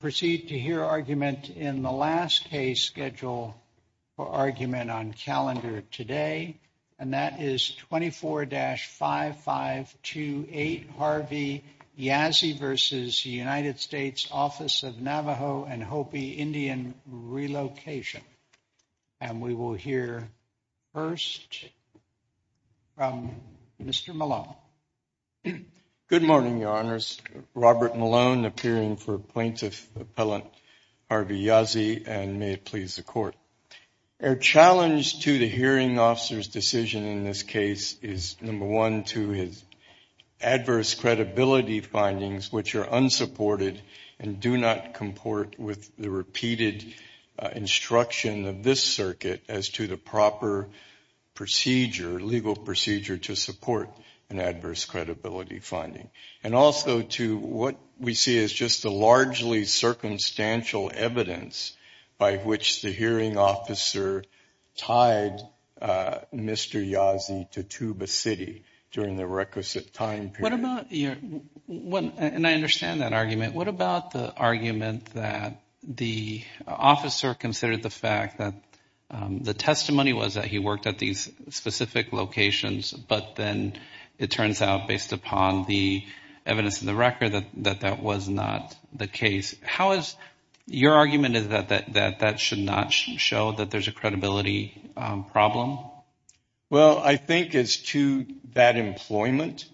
Proceed to hear argument in the last case schedule for argument on calendar today, and that is 24-5528 Harvey Yazzie v. United States Office of Navajo and Hopi Indian Relocation. And we will hear first from Mr. Malone. Good morning, Your Honors. Robert Malone, appearing for Plaintiff Appellant Harvey Yazzie, and may it please the Court. Our challenge to the hearing officer's decision in this case is, number one, to his adverse credibility findings, which are unsupported and do not comport with the repeated instruction of this circuit as to the proper procedure, legal procedure to support an adverse credibility finding. And also to what we see as just a largely circumstantial evidence by which the hearing officer tied Mr. Yazzie to Tuba City during the requisite time period. And I understand that argument. What about the argument that the officer considered the fact that the testimony was that he worked at these specific locations, but then it turns out based upon the evidence in the record that that was not the case. How is your argument that that should not show that there is a credibility problem? Well, I think as to that employment,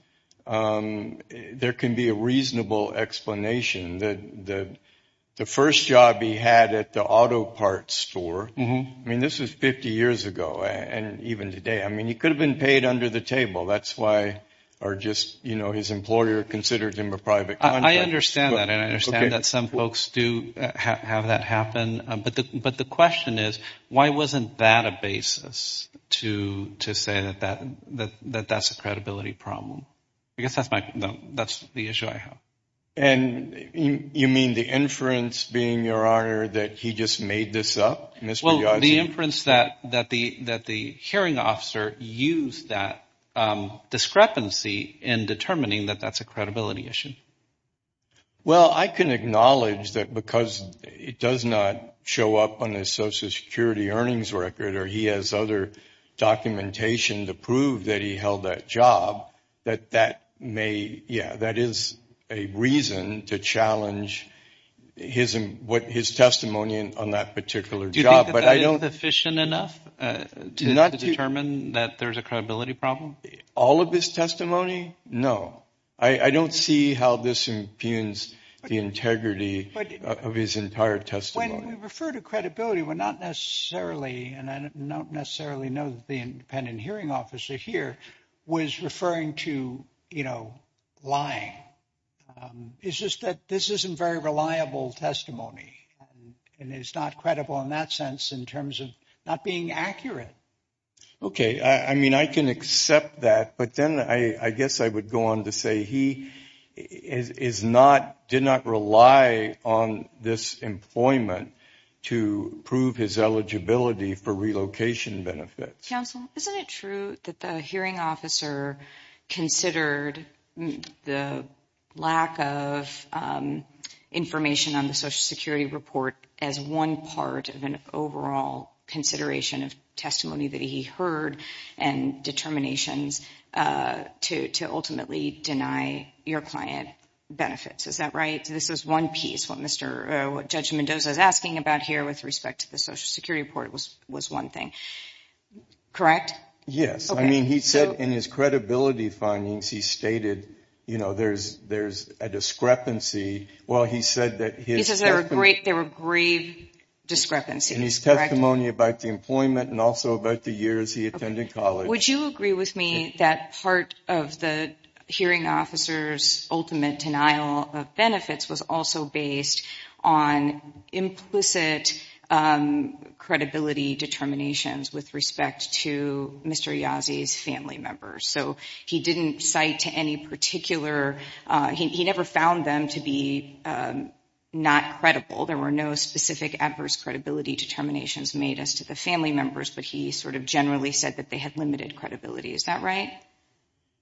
there can be a reasonable explanation. The first job he had at the auto parts store, I mean, this was 50 years ago and even today. I mean, he could have been paid under the table. That's why, or just, you know, his employer considered him a private contractor. I understand that and I understand that some folks do have that happen. But the question is, why wasn't that a basis to say that that's a credibility problem? I guess that's the issue I have. And you mean the inference being, Your Honor, that he just made this up, Mr. Yazzie? The inference that the hearing officer used that discrepancy in determining that that's a credibility issue. Well, I can acknowledge that because it does not show up on the Social Security earnings record or he has other documentation to prove that he held that job, that that may, yeah, that is a reason to challenge his testimony on that particular job. But I don't think it's sufficient enough to not determine that there's a credibility problem. All of this testimony. No, I don't see how this impugns the integrity of his entire testimony. When we refer to credibility, we're not necessarily and I don't necessarily know that the independent hearing officer here was referring to, you know, lying. It's just that this isn't very reliable testimony and it's not credible in that sense in terms of not being accurate. OK, I mean, I can accept that. But then I guess I would go on to say he is not did not rely on this employment to prove his eligibility for relocation benefits. Counsel, isn't it true that the hearing officer considered the lack of information on the Social Security report as one part of an overall consideration of testimony that he heard and determinations to to ultimately deny your client benefits? Is that right? This is one piece. What Mr. Judge Mendoza is asking about here with respect to the Social Security report was was one thing, correct? Yes. I mean, he said in his credibility findings, he stated, you know, there's there's a discrepancy. Well, he said that he says there are great there were grave discrepancies in his testimony about the employment and also about the years he attended college. Would you agree with me that part of the hearing officer's ultimate denial of benefits was also based on implicit credibility determinations with respect to Mr. Yazi's family members? So he didn't cite to any particular he never found them to be not credible. There were no specific adverse credibility determinations made as to the family members. But he sort of generally said that they had limited credibility. Is that right?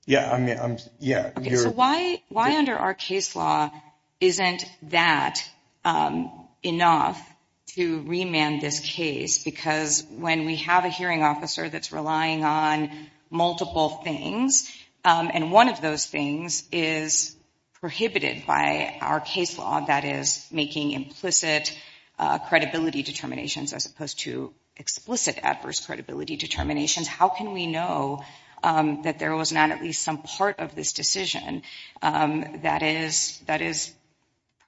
Yeah, I mean, yeah. Why why under our case law isn't that enough to remand this case? Because when we have a hearing officer that's relying on multiple things and one of those things is prohibited by our case law, that is making implicit credibility determinations as opposed to explicit adverse credibility determinations. How can we know that there was not at least some part of this decision that is that is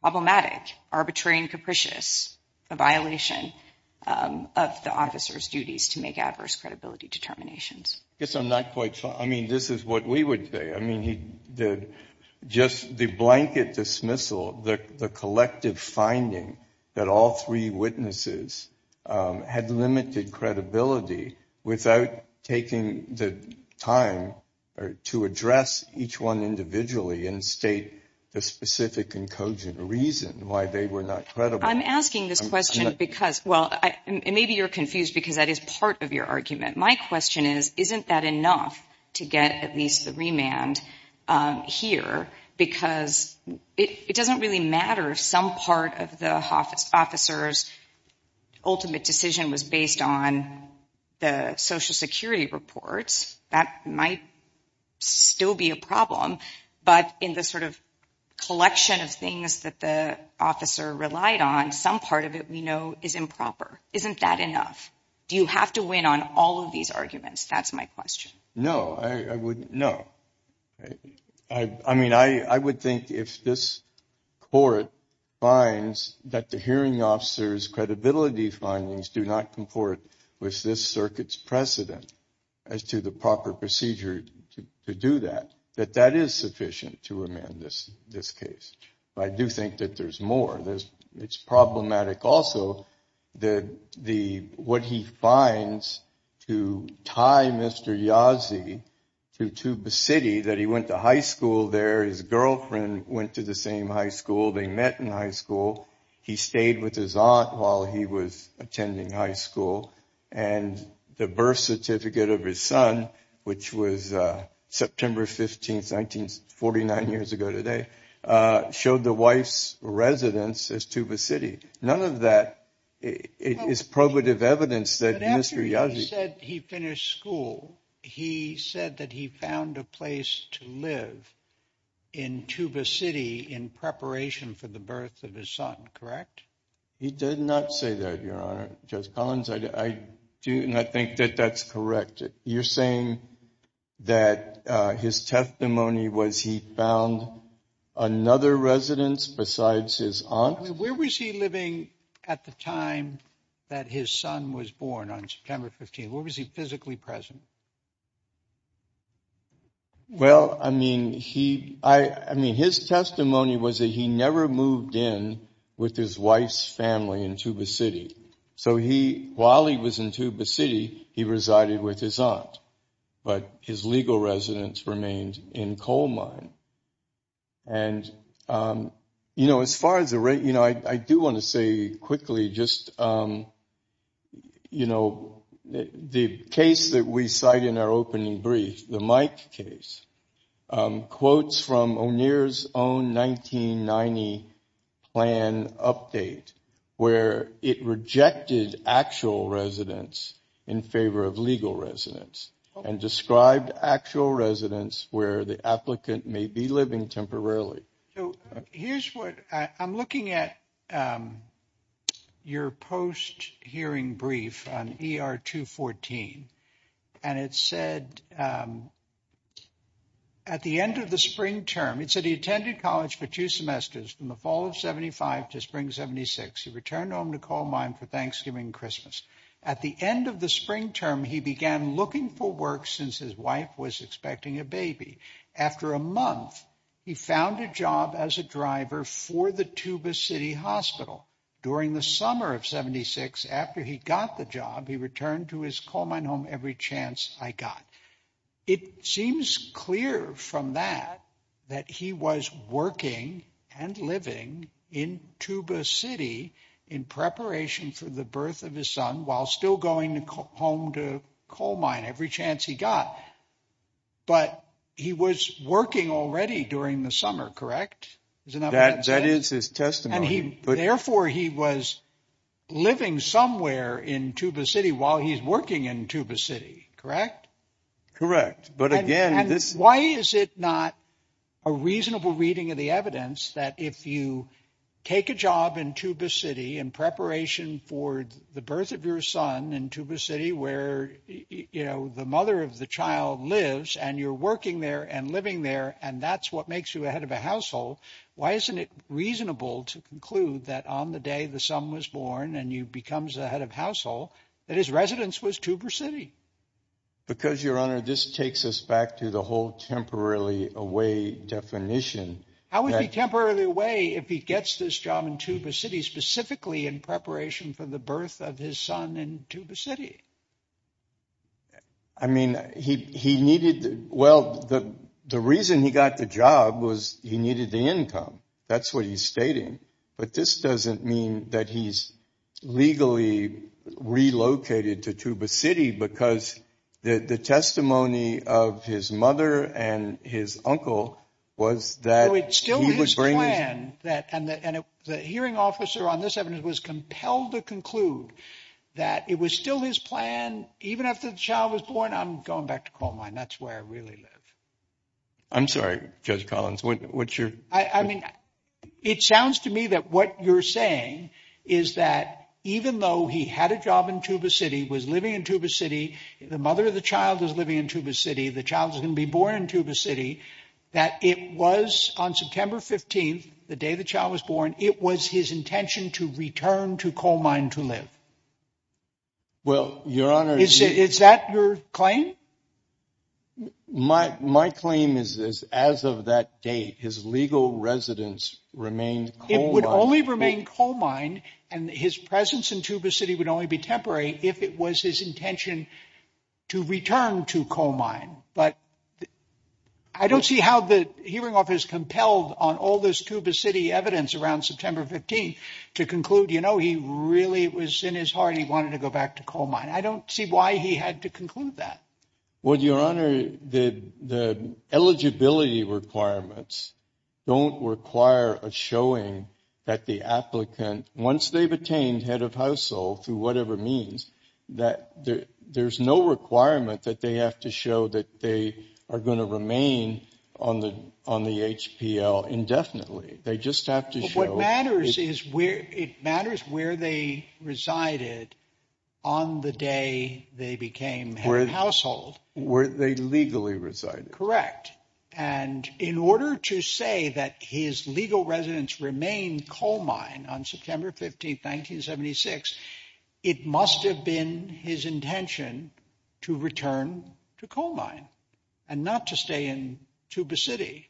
problematic, arbitrary and capricious, a violation of the officer's duties to make adverse credibility determinations? Yes, I'm not quite. I mean, this is what we would say. I mean, he did just the blanket dismissal, the collective finding that all three witnesses had limited credibility without taking the time to address each one individually and state the specific and cogent reason why they were not credible. I'm asking this question because, well, maybe you're confused because that is part of your argument. My question is, isn't that enough to get at least the remand here? Isn't that enough? Do you have to win on all of these arguments? That's my question. No, I wouldn't know. I mean, I would think if this court finds that the hearing officer's credibility findings do not comport with this circuit's precedent as to the proper procedure to do that, that that is sufficient to amend this this case. I do think that there's more. There's it's problematic. Also, the the what he finds to tie Mr. Yazi to to the city that he went to high school there, his girlfriend went to the same high school they met in high school. He stayed with his aunt while he was attending high school. And the birth certificate of his son, which was September 15th, 1949, years ago today, showed the wife's residence as to the city. None of that is probative evidence that Mr. Yazi said he finished school. He said that he found a place to live in Tuba City in preparation for the birth of his son. Correct. He did not say that, Your Honor. Judge Collins, I do not think that that's correct. You're saying that his testimony was he found another residence besides his aunt? Where was he living at the time that his son was born on September 15th? Where was he physically present? Well, I mean, he I mean, his testimony was that he never moved in with his wife's family in Tuba City. So he while he was in Tuba City, he resided with his aunt, but his legal residence remained in coal mine. And, you know, as far as the rate, you know, I do want to say quickly just, you know, the case that we cite in our opening brief, the Mike case quotes from O'Neill's own 1990 plan update where it rejected actual residents in favor of legal residents and described actual residents where the applicant may be living temporarily. So here's what I'm looking at your post hearing brief on ER 214. And it said at the end of the spring term, it said he attended college for two semesters in the fall of 75 to spring 76. He returned home to coal mine for Thanksgiving and Christmas. At the end of the spring term, he began looking for work since his wife was expecting a baby. After a month, he found a job as a driver for the Tuba City Hospital. During the summer of 76, after he got the job, he returned to his coal mine home every chance I got. It seems clear from that that he was working and living in Tuba City in preparation for the birth of his son while still going home to coal mine every chance he got. But he was working already during the summer, correct? That is his testimony. But therefore, he was living somewhere in Tuba City while he's working in Tuba City, correct? Correct. But again, this why is it not a reasonable reading of the evidence that if you take a job in Tuba City in preparation for the birth of your son in Tuba City, where, you know, the mother of the child lives and you're working there and living there and that's what makes you a head of a household. Why isn't it reasonable to conclude that on the day the son was born and you becomes a head of household that his residence was Tuba City? Because, Your Honor, this takes us back to the whole temporarily away definition. I would be temporarily away if he gets this job in Tuba City specifically in preparation for the birth of his son in Tuba City. I mean, he he needed. Well, the the reason he got the job was he needed the income. That's what he's stating. But this doesn't mean that he's legally relocated to Tuba City because the testimony of his mother and his uncle was that it's still his plan. And that and the hearing officer on this evidence was compelled to conclude that it was still his plan even after the child was born. I'm going back to coal mine. That's where I really live. I'm sorry, Judge Collins. What's your I mean, it sounds to me that what you're saying is that even though he had a job in Tuba City was living in Tuba City, the mother of the child is living in Tuba City. The child is going to be born in Tuba City, that it was on September 15th, the day the child was born. It was his intention to return to coal mine to live. Well, Your Honor, is that your claim? My my claim is, as of that date, his legal residence remained. It would only remain coal mine and his presence in Tuba City would only be temporary if it was his intention to return to coal mine. But I don't see how the hearing office compelled on all this Tuba City evidence around September 15th to conclude, you know, he really was in his heart. He wanted to go back to coal mine. I don't see why he had to conclude that. Well, Your Honor, the the eligibility requirements don't require a showing that the applicant, once they've attained head of household through whatever means, that there's no requirement that they have to show that they are going to remain on the on the HPL indefinitely. But what matters is where it matters, where they resided on the day they became head of household, where they legally resided. Correct. And in order to say that his legal residence remained coal mine on September 15th, 1976, it must have been his intention to return to coal mine and not to stay in Tuba City.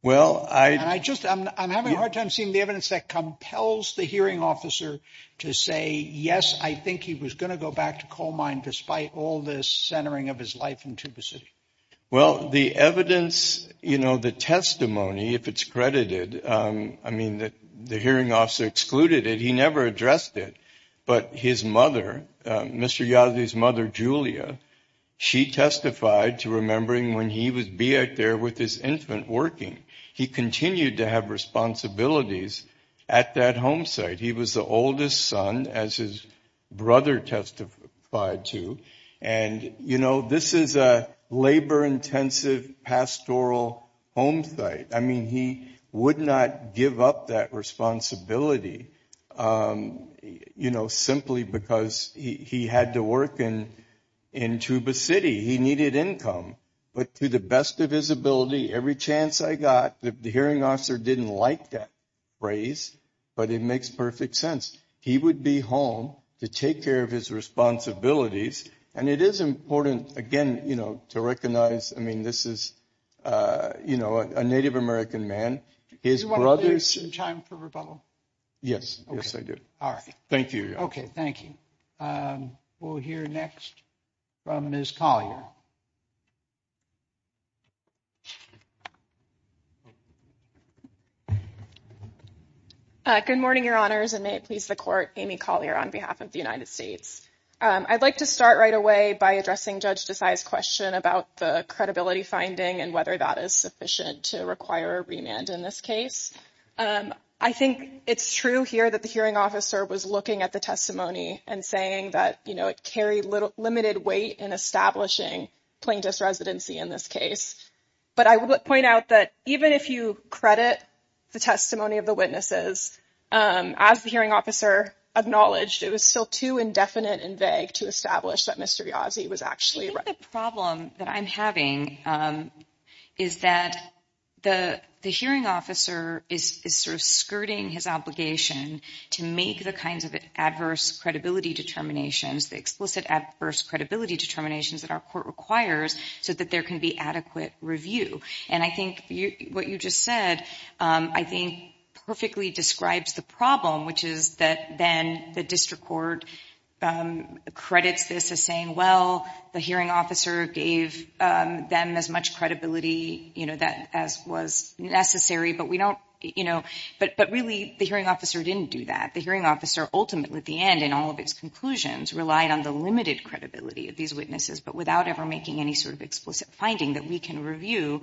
Well, I just I'm having a hard time seeing the evidence that compels the hearing officer to say, yes, I think he was going to go back to coal mine despite all this centering of his life in Tuba City. Well, the evidence, you know, the testimony, if it's credited, I mean, that the hearing officer excluded it. He never addressed it. But his mother, Mr. Yazi's mother, Julia, she testified to remembering when he would be out there with his infant working. He continued to have responsibilities at that home site. He was the oldest son, as his brother testified to. And, you know, this is a labor intensive pastoral home site. I mean, he would not give up that responsibility, you know, simply because he had to work in Tuba City. He needed income. But to the best of his ability, every chance I got, the hearing officer didn't like that phrase, but it makes perfect sense. He would be home to take care of his responsibilities. And it is important, again, you know, to recognize, I mean, this is, you know, a Native American man. His brothers in time for rebuttal. Yes. Yes, I do. All right. Thank you. OK, thank you. We'll hear next from Ms. Collier. Good morning, Your Honors, and may it please the court, Amy Collier on behalf of the United States. I'd like to start right away by addressing Judge Desai's question about the credibility finding and whether that is sufficient to require a remand in this case. I think it's true here that the hearing officer was looking at the testimony and saying that, you know, it carried limited weight in establishing plaintiff's residency in this case. But I would point out that even if you credit the testimony of the witnesses, as the hearing officer acknowledged, it was still too indefinite and vague to establish that Mr. Yazzie was actually. I think the problem that I'm having is that the hearing officer is sort of skirting his obligation to make the kinds of adverse credibility determinations, the explicit adverse credibility determinations that our court requires so that there can be adequate review. And I think what you just said, I think, perfectly describes the problem, which is that then the district court credits this as saying, well, the hearing officer gave them as much credibility, you know, that as was necessary. But we don't, you know, but really the hearing officer didn't do that. The hearing officer ultimately at the end and all of its conclusions relied on the limited credibility of these witnesses, but without ever making any sort of explicit finding that we can review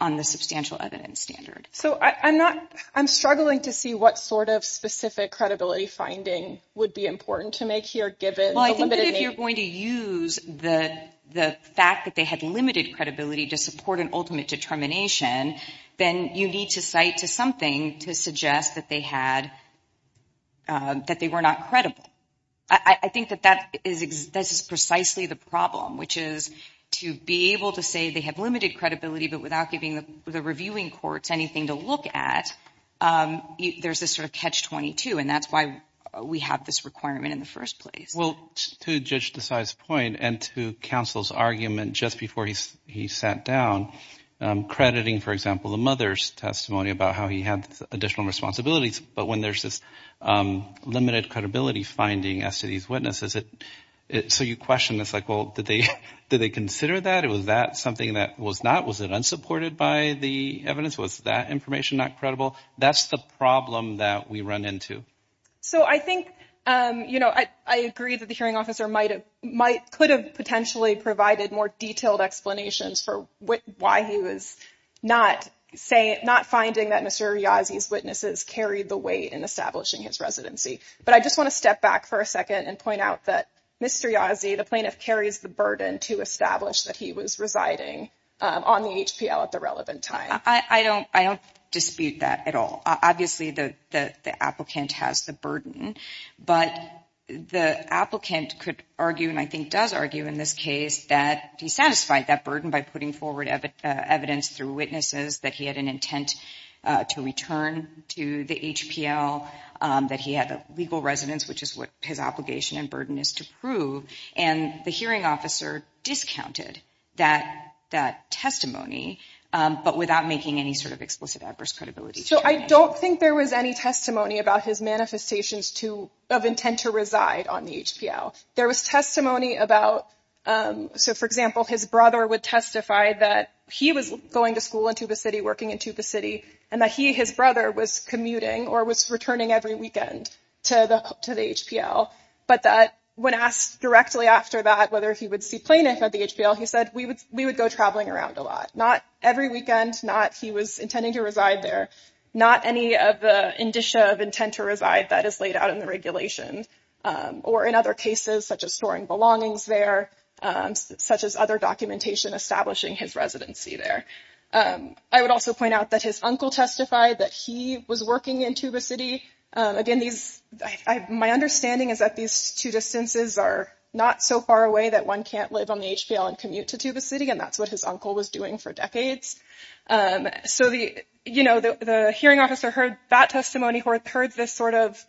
on the substantial evidence standard. So I'm not, I'm struggling to see what sort of specific credibility finding would be important to make here, given the limited name. Well, I think that if you're going to use the fact that they had limited credibility to support an ultimate determination, then you need to cite to something to suggest that they had, that they were not credible. I think that that is precisely the problem, which is to be able to say they have limited credibility, but without giving the reviewing courts anything to look at, there's this sort of catch-22, and that's why we have this requirement in the first place. Well, to Judge Desai's point and to counsel's argument just before he sat down, crediting, for example, the mother's testimony about how he had additional responsibilities, but when there's this limited credibility finding as to these witnesses, so you question this, like, well, did they consider that? Was that something that was not? Was it unsupported by the evidence? Was that information not credible? That's the problem that we run into. So I think, you know, I agree that the hearing officer could have potentially provided more detailed explanations for why he was not finding that Mr. Yazzie's witnesses carried the weight in establishing his residency. But I just want to step back for a second and point out that Mr. Yazzie, the plaintiff, carries the burden to establish that he was residing on the HPL at the relevant time. I don't dispute that at all. Obviously, the applicant has the burden, but the applicant could argue, and I think does argue in this case, that he satisfied that burden by putting forward evidence through witnesses, that he had an intent to return to the HPL, that he had a legal residence, which is what his obligation and burden is to prove. And the hearing officer discounted that testimony, but without making any sort of explicit adverse credibility. So I don't think there was any testimony about his manifestations to of intent to reside on the HPL. There was testimony about. So, for example, his brother would testify that he was going to school in Tuba City, working in Tuba City, and that he his brother was commuting or was returning every weekend to the to the HPL. But that when asked directly after that, whether he would see plaintiff at the HPL, he said we would we would go traveling around a lot, not every weekend, not he was intending to reside there, not any of the indicia of intent to reside that is laid out in the regulation or in other cases, such as storing belongings there, such as other documentation establishing his residency there. I would also point out that his uncle testified that he was working in Tuba City. Again, these my understanding is that these two distances are not so far away that one can't live on the HPL and commute to Tuba City. And that's what his uncle was doing for decades. So the you know, the hearing officer heard that testimony or heard this sort of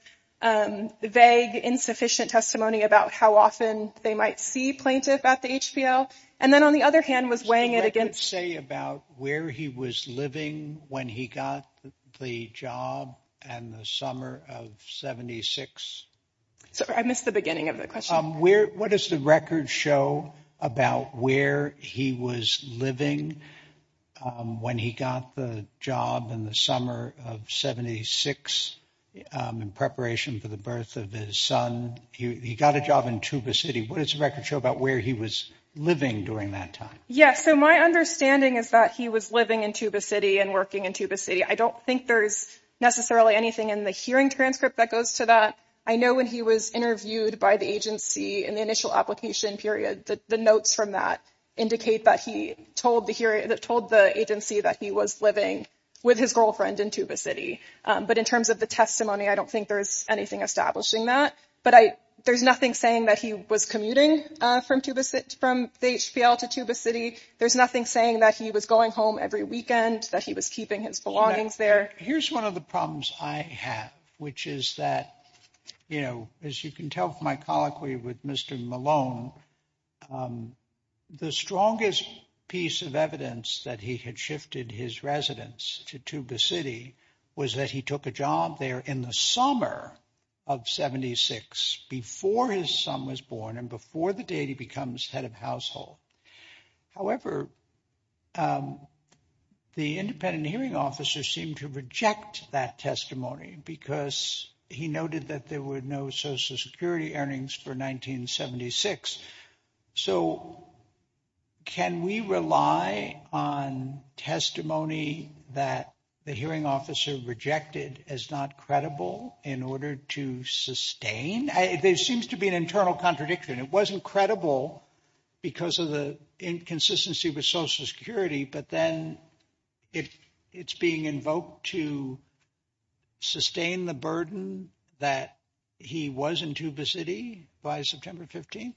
vague, insufficient testimony about how often they might see plaintiff at the HPL. And then on the other hand, was weighing it against say about where he was living when he got the job and the summer of 76. So I missed the beginning of the question. Yes. So my understanding is that he was living in Tuba City and working in Tuba City. I don't think there's necessarily anything in the hearing transcript that goes to that. I know when he was interviewed by the agency in the initial application period that the notes from that indicate that he told the hearing that told the agency that he was living with his girlfriend in Tuba City. But in terms of the testimony, I don't think there's anything establishing that. But there's nothing saying that he was commuting from Tuba City from the HPL to Tuba City. There's nothing saying that he was going home every weekend that he was keeping his belongings there. Here's one of the problems I have, which is that, you know, as you can tell from my colloquy with Mr. Malone, the strongest piece of evidence that he had shifted his residence to Tuba City was that he took a job there in the summer of 76 before his son was born and before the day he becomes head of household. However, the independent hearing officer seemed to reject that testimony because he noted that there were no Social Security earnings for 1976. So can we rely on testimony that the hearing officer rejected as not credible in order to sustain? There seems to be an internal contradiction. It wasn't credible because of the inconsistency with Social Security. But then if it's being invoked to sustain the burden that he was in Tuba City by September 15th.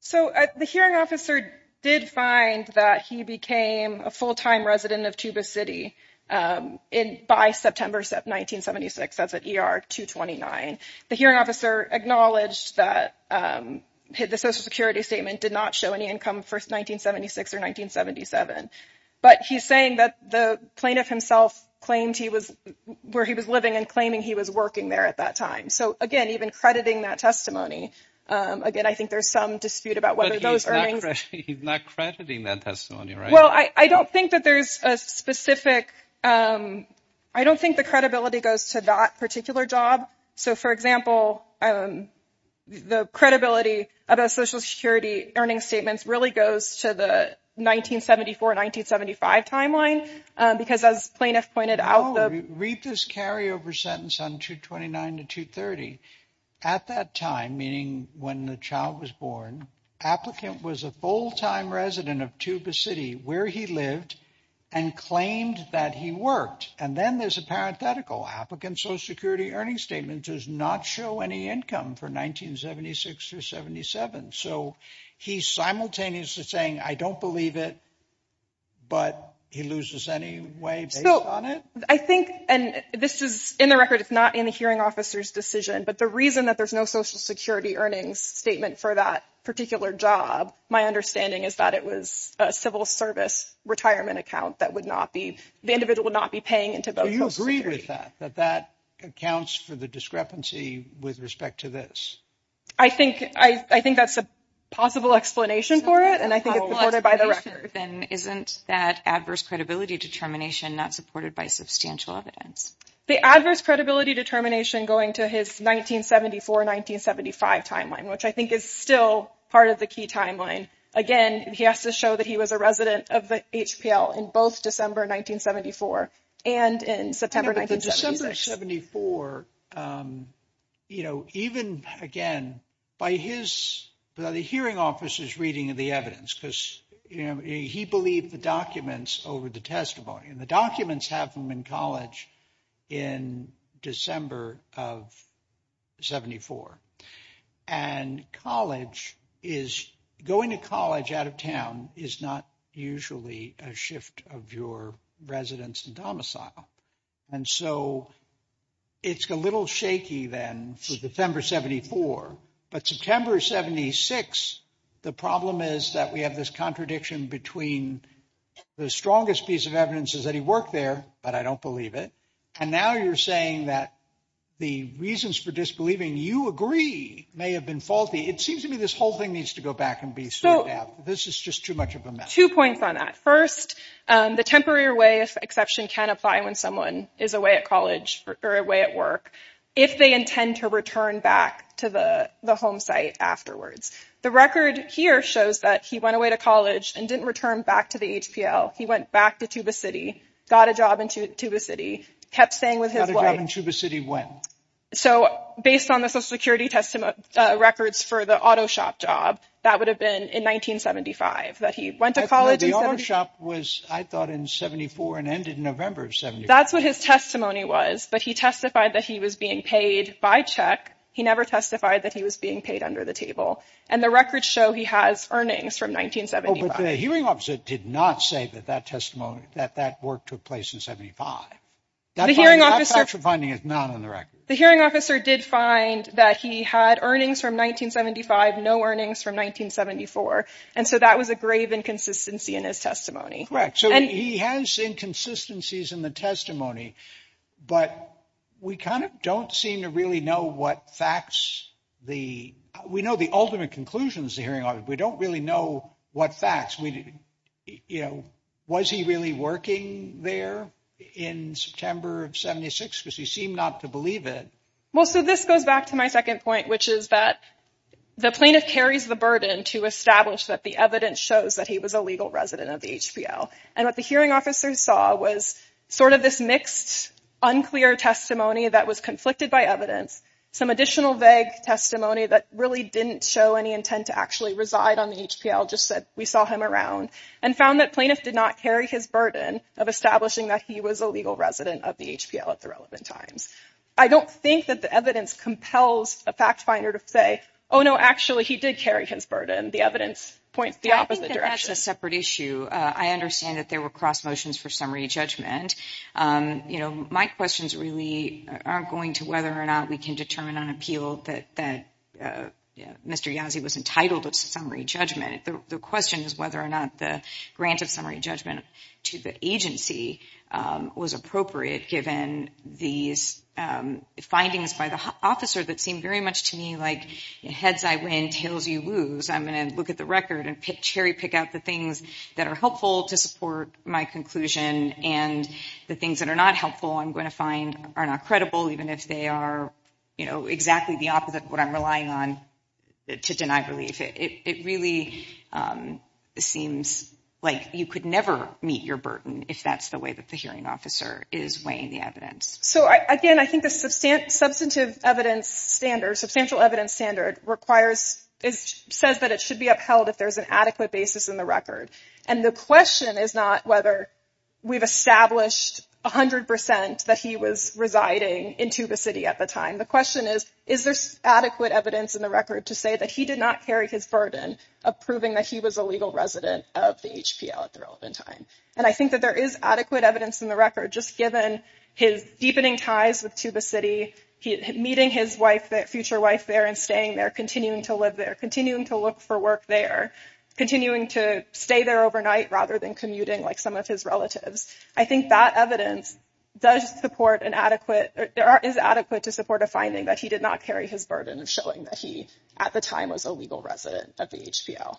So the hearing officer did find that he became a full time resident of Tuba City by September 1976. That's at ER 229. The hearing officer acknowledged that the Social Security statement did not show any income for 1976 or 1977. But he's saying that the plaintiff himself claimed he was where he was living and claiming he was working there at that time. So, again, even crediting that testimony again, I think there's some dispute about whether those are not crediting that testimony. Well, I don't think that there's a specific I don't think the credibility goes to that particular job. So, for example, the credibility of a Social Security earnings statements really goes to the 1974, 1975 timeline, because as plaintiff pointed out, read this carryover sentence on 229 to 230. At that time, meaning when the child was born, applicant was a full time resident of Tuba City where he lived and claimed that he worked. And then there's a parenthetical applicant. Social Security earnings statement does not show any income for 1976 or 77. So he's simultaneously saying, I don't believe it, but he loses anyway. So I think and this is in the record, it's not in the hearing officer's decision. But the reason that there's no Social Security earnings statement for that particular job, my understanding is that it was a civil service retirement account that would not be the individual not be paying into. Do you agree with that, that that accounts for the discrepancy with respect to this? I think I think that's a possible explanation for it. And I think it's supported by the record. Then isn't that adverse credibility determination not supported by substantial evidence? The adverse credibility determination going to his 1974, 1975 timeline, which I think is still part of the key timeline. Again, he has to show that he was a resident of the HPL in both December 1974 and in September 1974. You know, even again, by his hearing officers reading of the evidence, because, you know, he believed the documents over the testimony and the documents have them in college in December of 74. And college is going to college out of town is not usually a shift of your residence and domicile. And so it's a little shaky then for December 74. But September 76, the problem is that we have this contradiction between the strongest piece of evidence is that he worked there. But I don't believe it. And now you're saying that the reasons for disbelieving you agree may have been faulty. It seems to me this whole thing needs to go back and be. So this is just too much of a two points on that. First, the temporary way of exception can apply when someone is away at college or away at work. If they intend to return back to the home site afterwards. The record here shows that he went away to college and didn't return back to the HPL. He went back to Tuba City, got a job in Tuba City, kept staying with his wife in Tuba City. When? So based on the Social Security testimony records for the auto shop job, that would have been in 1975 that he went to college. The auto shop was, I thought, in 74 and ended in November. So that's what his testimony was. But he testified that he was being paid by check. He never testified that he was being paid under the table. And the records show he has earnings from 1975. But the hearing officer did not say that that testimony, that that work took place in 75. The hearing officer finding is not on the record. The hearing officer did find that he had earnings from 1975, no earnings from 1974. And so that was a grave inconsistency in his testimony. Correct. So he has inconsistencies in the testimony, but we kind of don't seem to really know what facts the we know the ultimate conclusions. The hearing, we don't really know what facts we know. Was he really working there in September of 76 because he seemed not to believe it? Well, so this goes back to my second point, which is that the plaintiff carries the burden to establish that the evidence shows that he was a legal resident of the HPL. And what the hearing officers saw was sort of this mixed, unclear testimony that was conflicted by evidence. Some additional vague testimony that really didn't show any intent to actually reside on the HPL. Just said we saw him around and found that plaintiff did not carry his burden of establishing that he was a legal resident of the HPL at the relevant times. I don't think that the evidence compels a fact finder to say, oh, no, actually, he did carry his burden. The evidence points the opposite direction, a separate issue. I understand that there were cross motions for summary judgment. My questions really aren't going to whether or not we can determine on appeal that Mr. Yazzie was entitled to summary judgment. The question is whether or not the grant of summary judgment to the agency was appropriate given these findings by the officer that seemed very much to me like heads I win, tails you lose. I'm going to look at the record and cherry pick out the things that are helpful to support my conclusion. And the things that are not helpful I'm going to find are not credible, even if they are exactly the opposite of what I'm relying on to deny belief. It really seems like you could never meet your burden if that's the way that the hearing officer is weighing the evidence. So, again, I think the substantial evidence standard requires it says that it should be upheld if there's an adequate basis in the record. And the question is not whether we've established 100 percent that he was residing into the city at the time. The question is, is there adequate evidence in the record to say that he did not carry his burden of proving that he was a legal resident of the HPL at the relevant time? And I think that there is adequate evidence in the record, just given his deepening ties with to the city, meeting his wife, that future wife there and staying there, continuing to live there, continuing to look for work there, continuing to stay there overnight rather than commuting like some of his relatives. I think that evidence does support an adequate or is adequate to support a finding that he did not carry his burden of showing that he at the time was a legal resident of the HPL.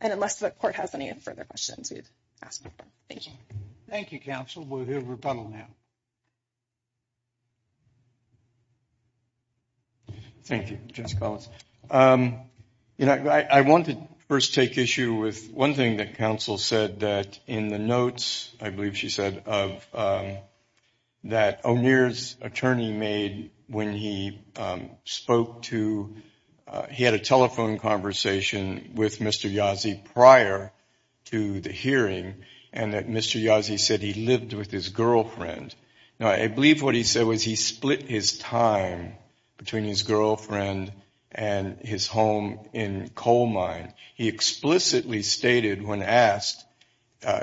And unless the court has any further questions, we'd ask. Thank you. Thank you, counsel. Thank you, Justice Collins. You know, I want to first take issue with one thing that counsel said that in the notes, I believe she said, of that O'Neill's attorney made when he spoke to he had a telephone conversation with Mr. Yazzie prior to the hearing. And that Mr. Yazzie said he lived with his girlfriend. Now, I believe what he said was he split his time between his girlfriend and his home in coal mine. He explicitly stated when asked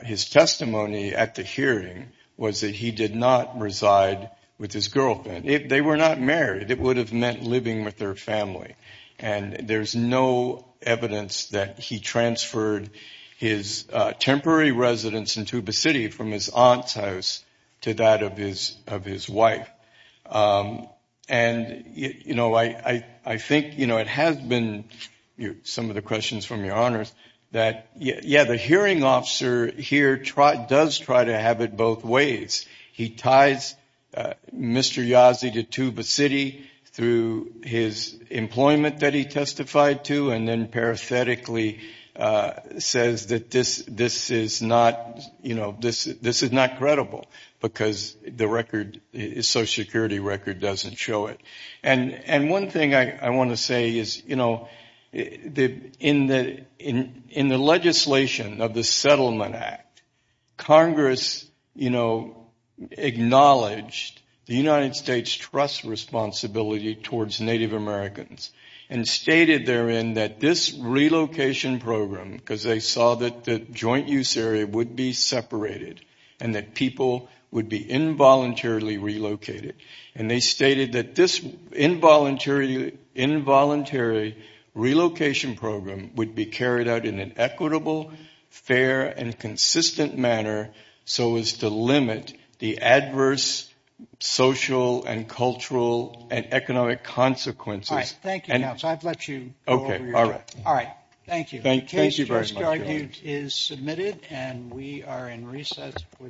his testimony at the hearing was that he did not reside with his girlfriend. They were not married. It would have meant living with their family. And there's no evidence that he transferred his temporary residence in Tuba City from his aunt's house to that of his wife. And, you know, I think, you know, it has been some of the questions from your honors that, yeah, the hearing officer here does try to have it both ways. He ties Mr. Yazzie to Tuba City through his employment that he testified to and then parathetically says that this is not, you know, this is not credible because the record, his social security record doesn't show it. And one thing I want to say is, you know, in the legislation of the Settlement Act, Congress, you know, acknowledged the United States' trust responsibility towards Native Americans and stated therein that this relocation program, because they saw that the joint use area would be separated and that people would be involuntarily relocated. And they stated that this involuntary relocation program would be carried out in an equitable, fair, and consistent manner so as to limit the adverse social and cultural and economic consequences. All right. Thank you, Counsel. I've let you go over your time. All right. Thank you. The case for this argument is submitted and we are in recess for the day.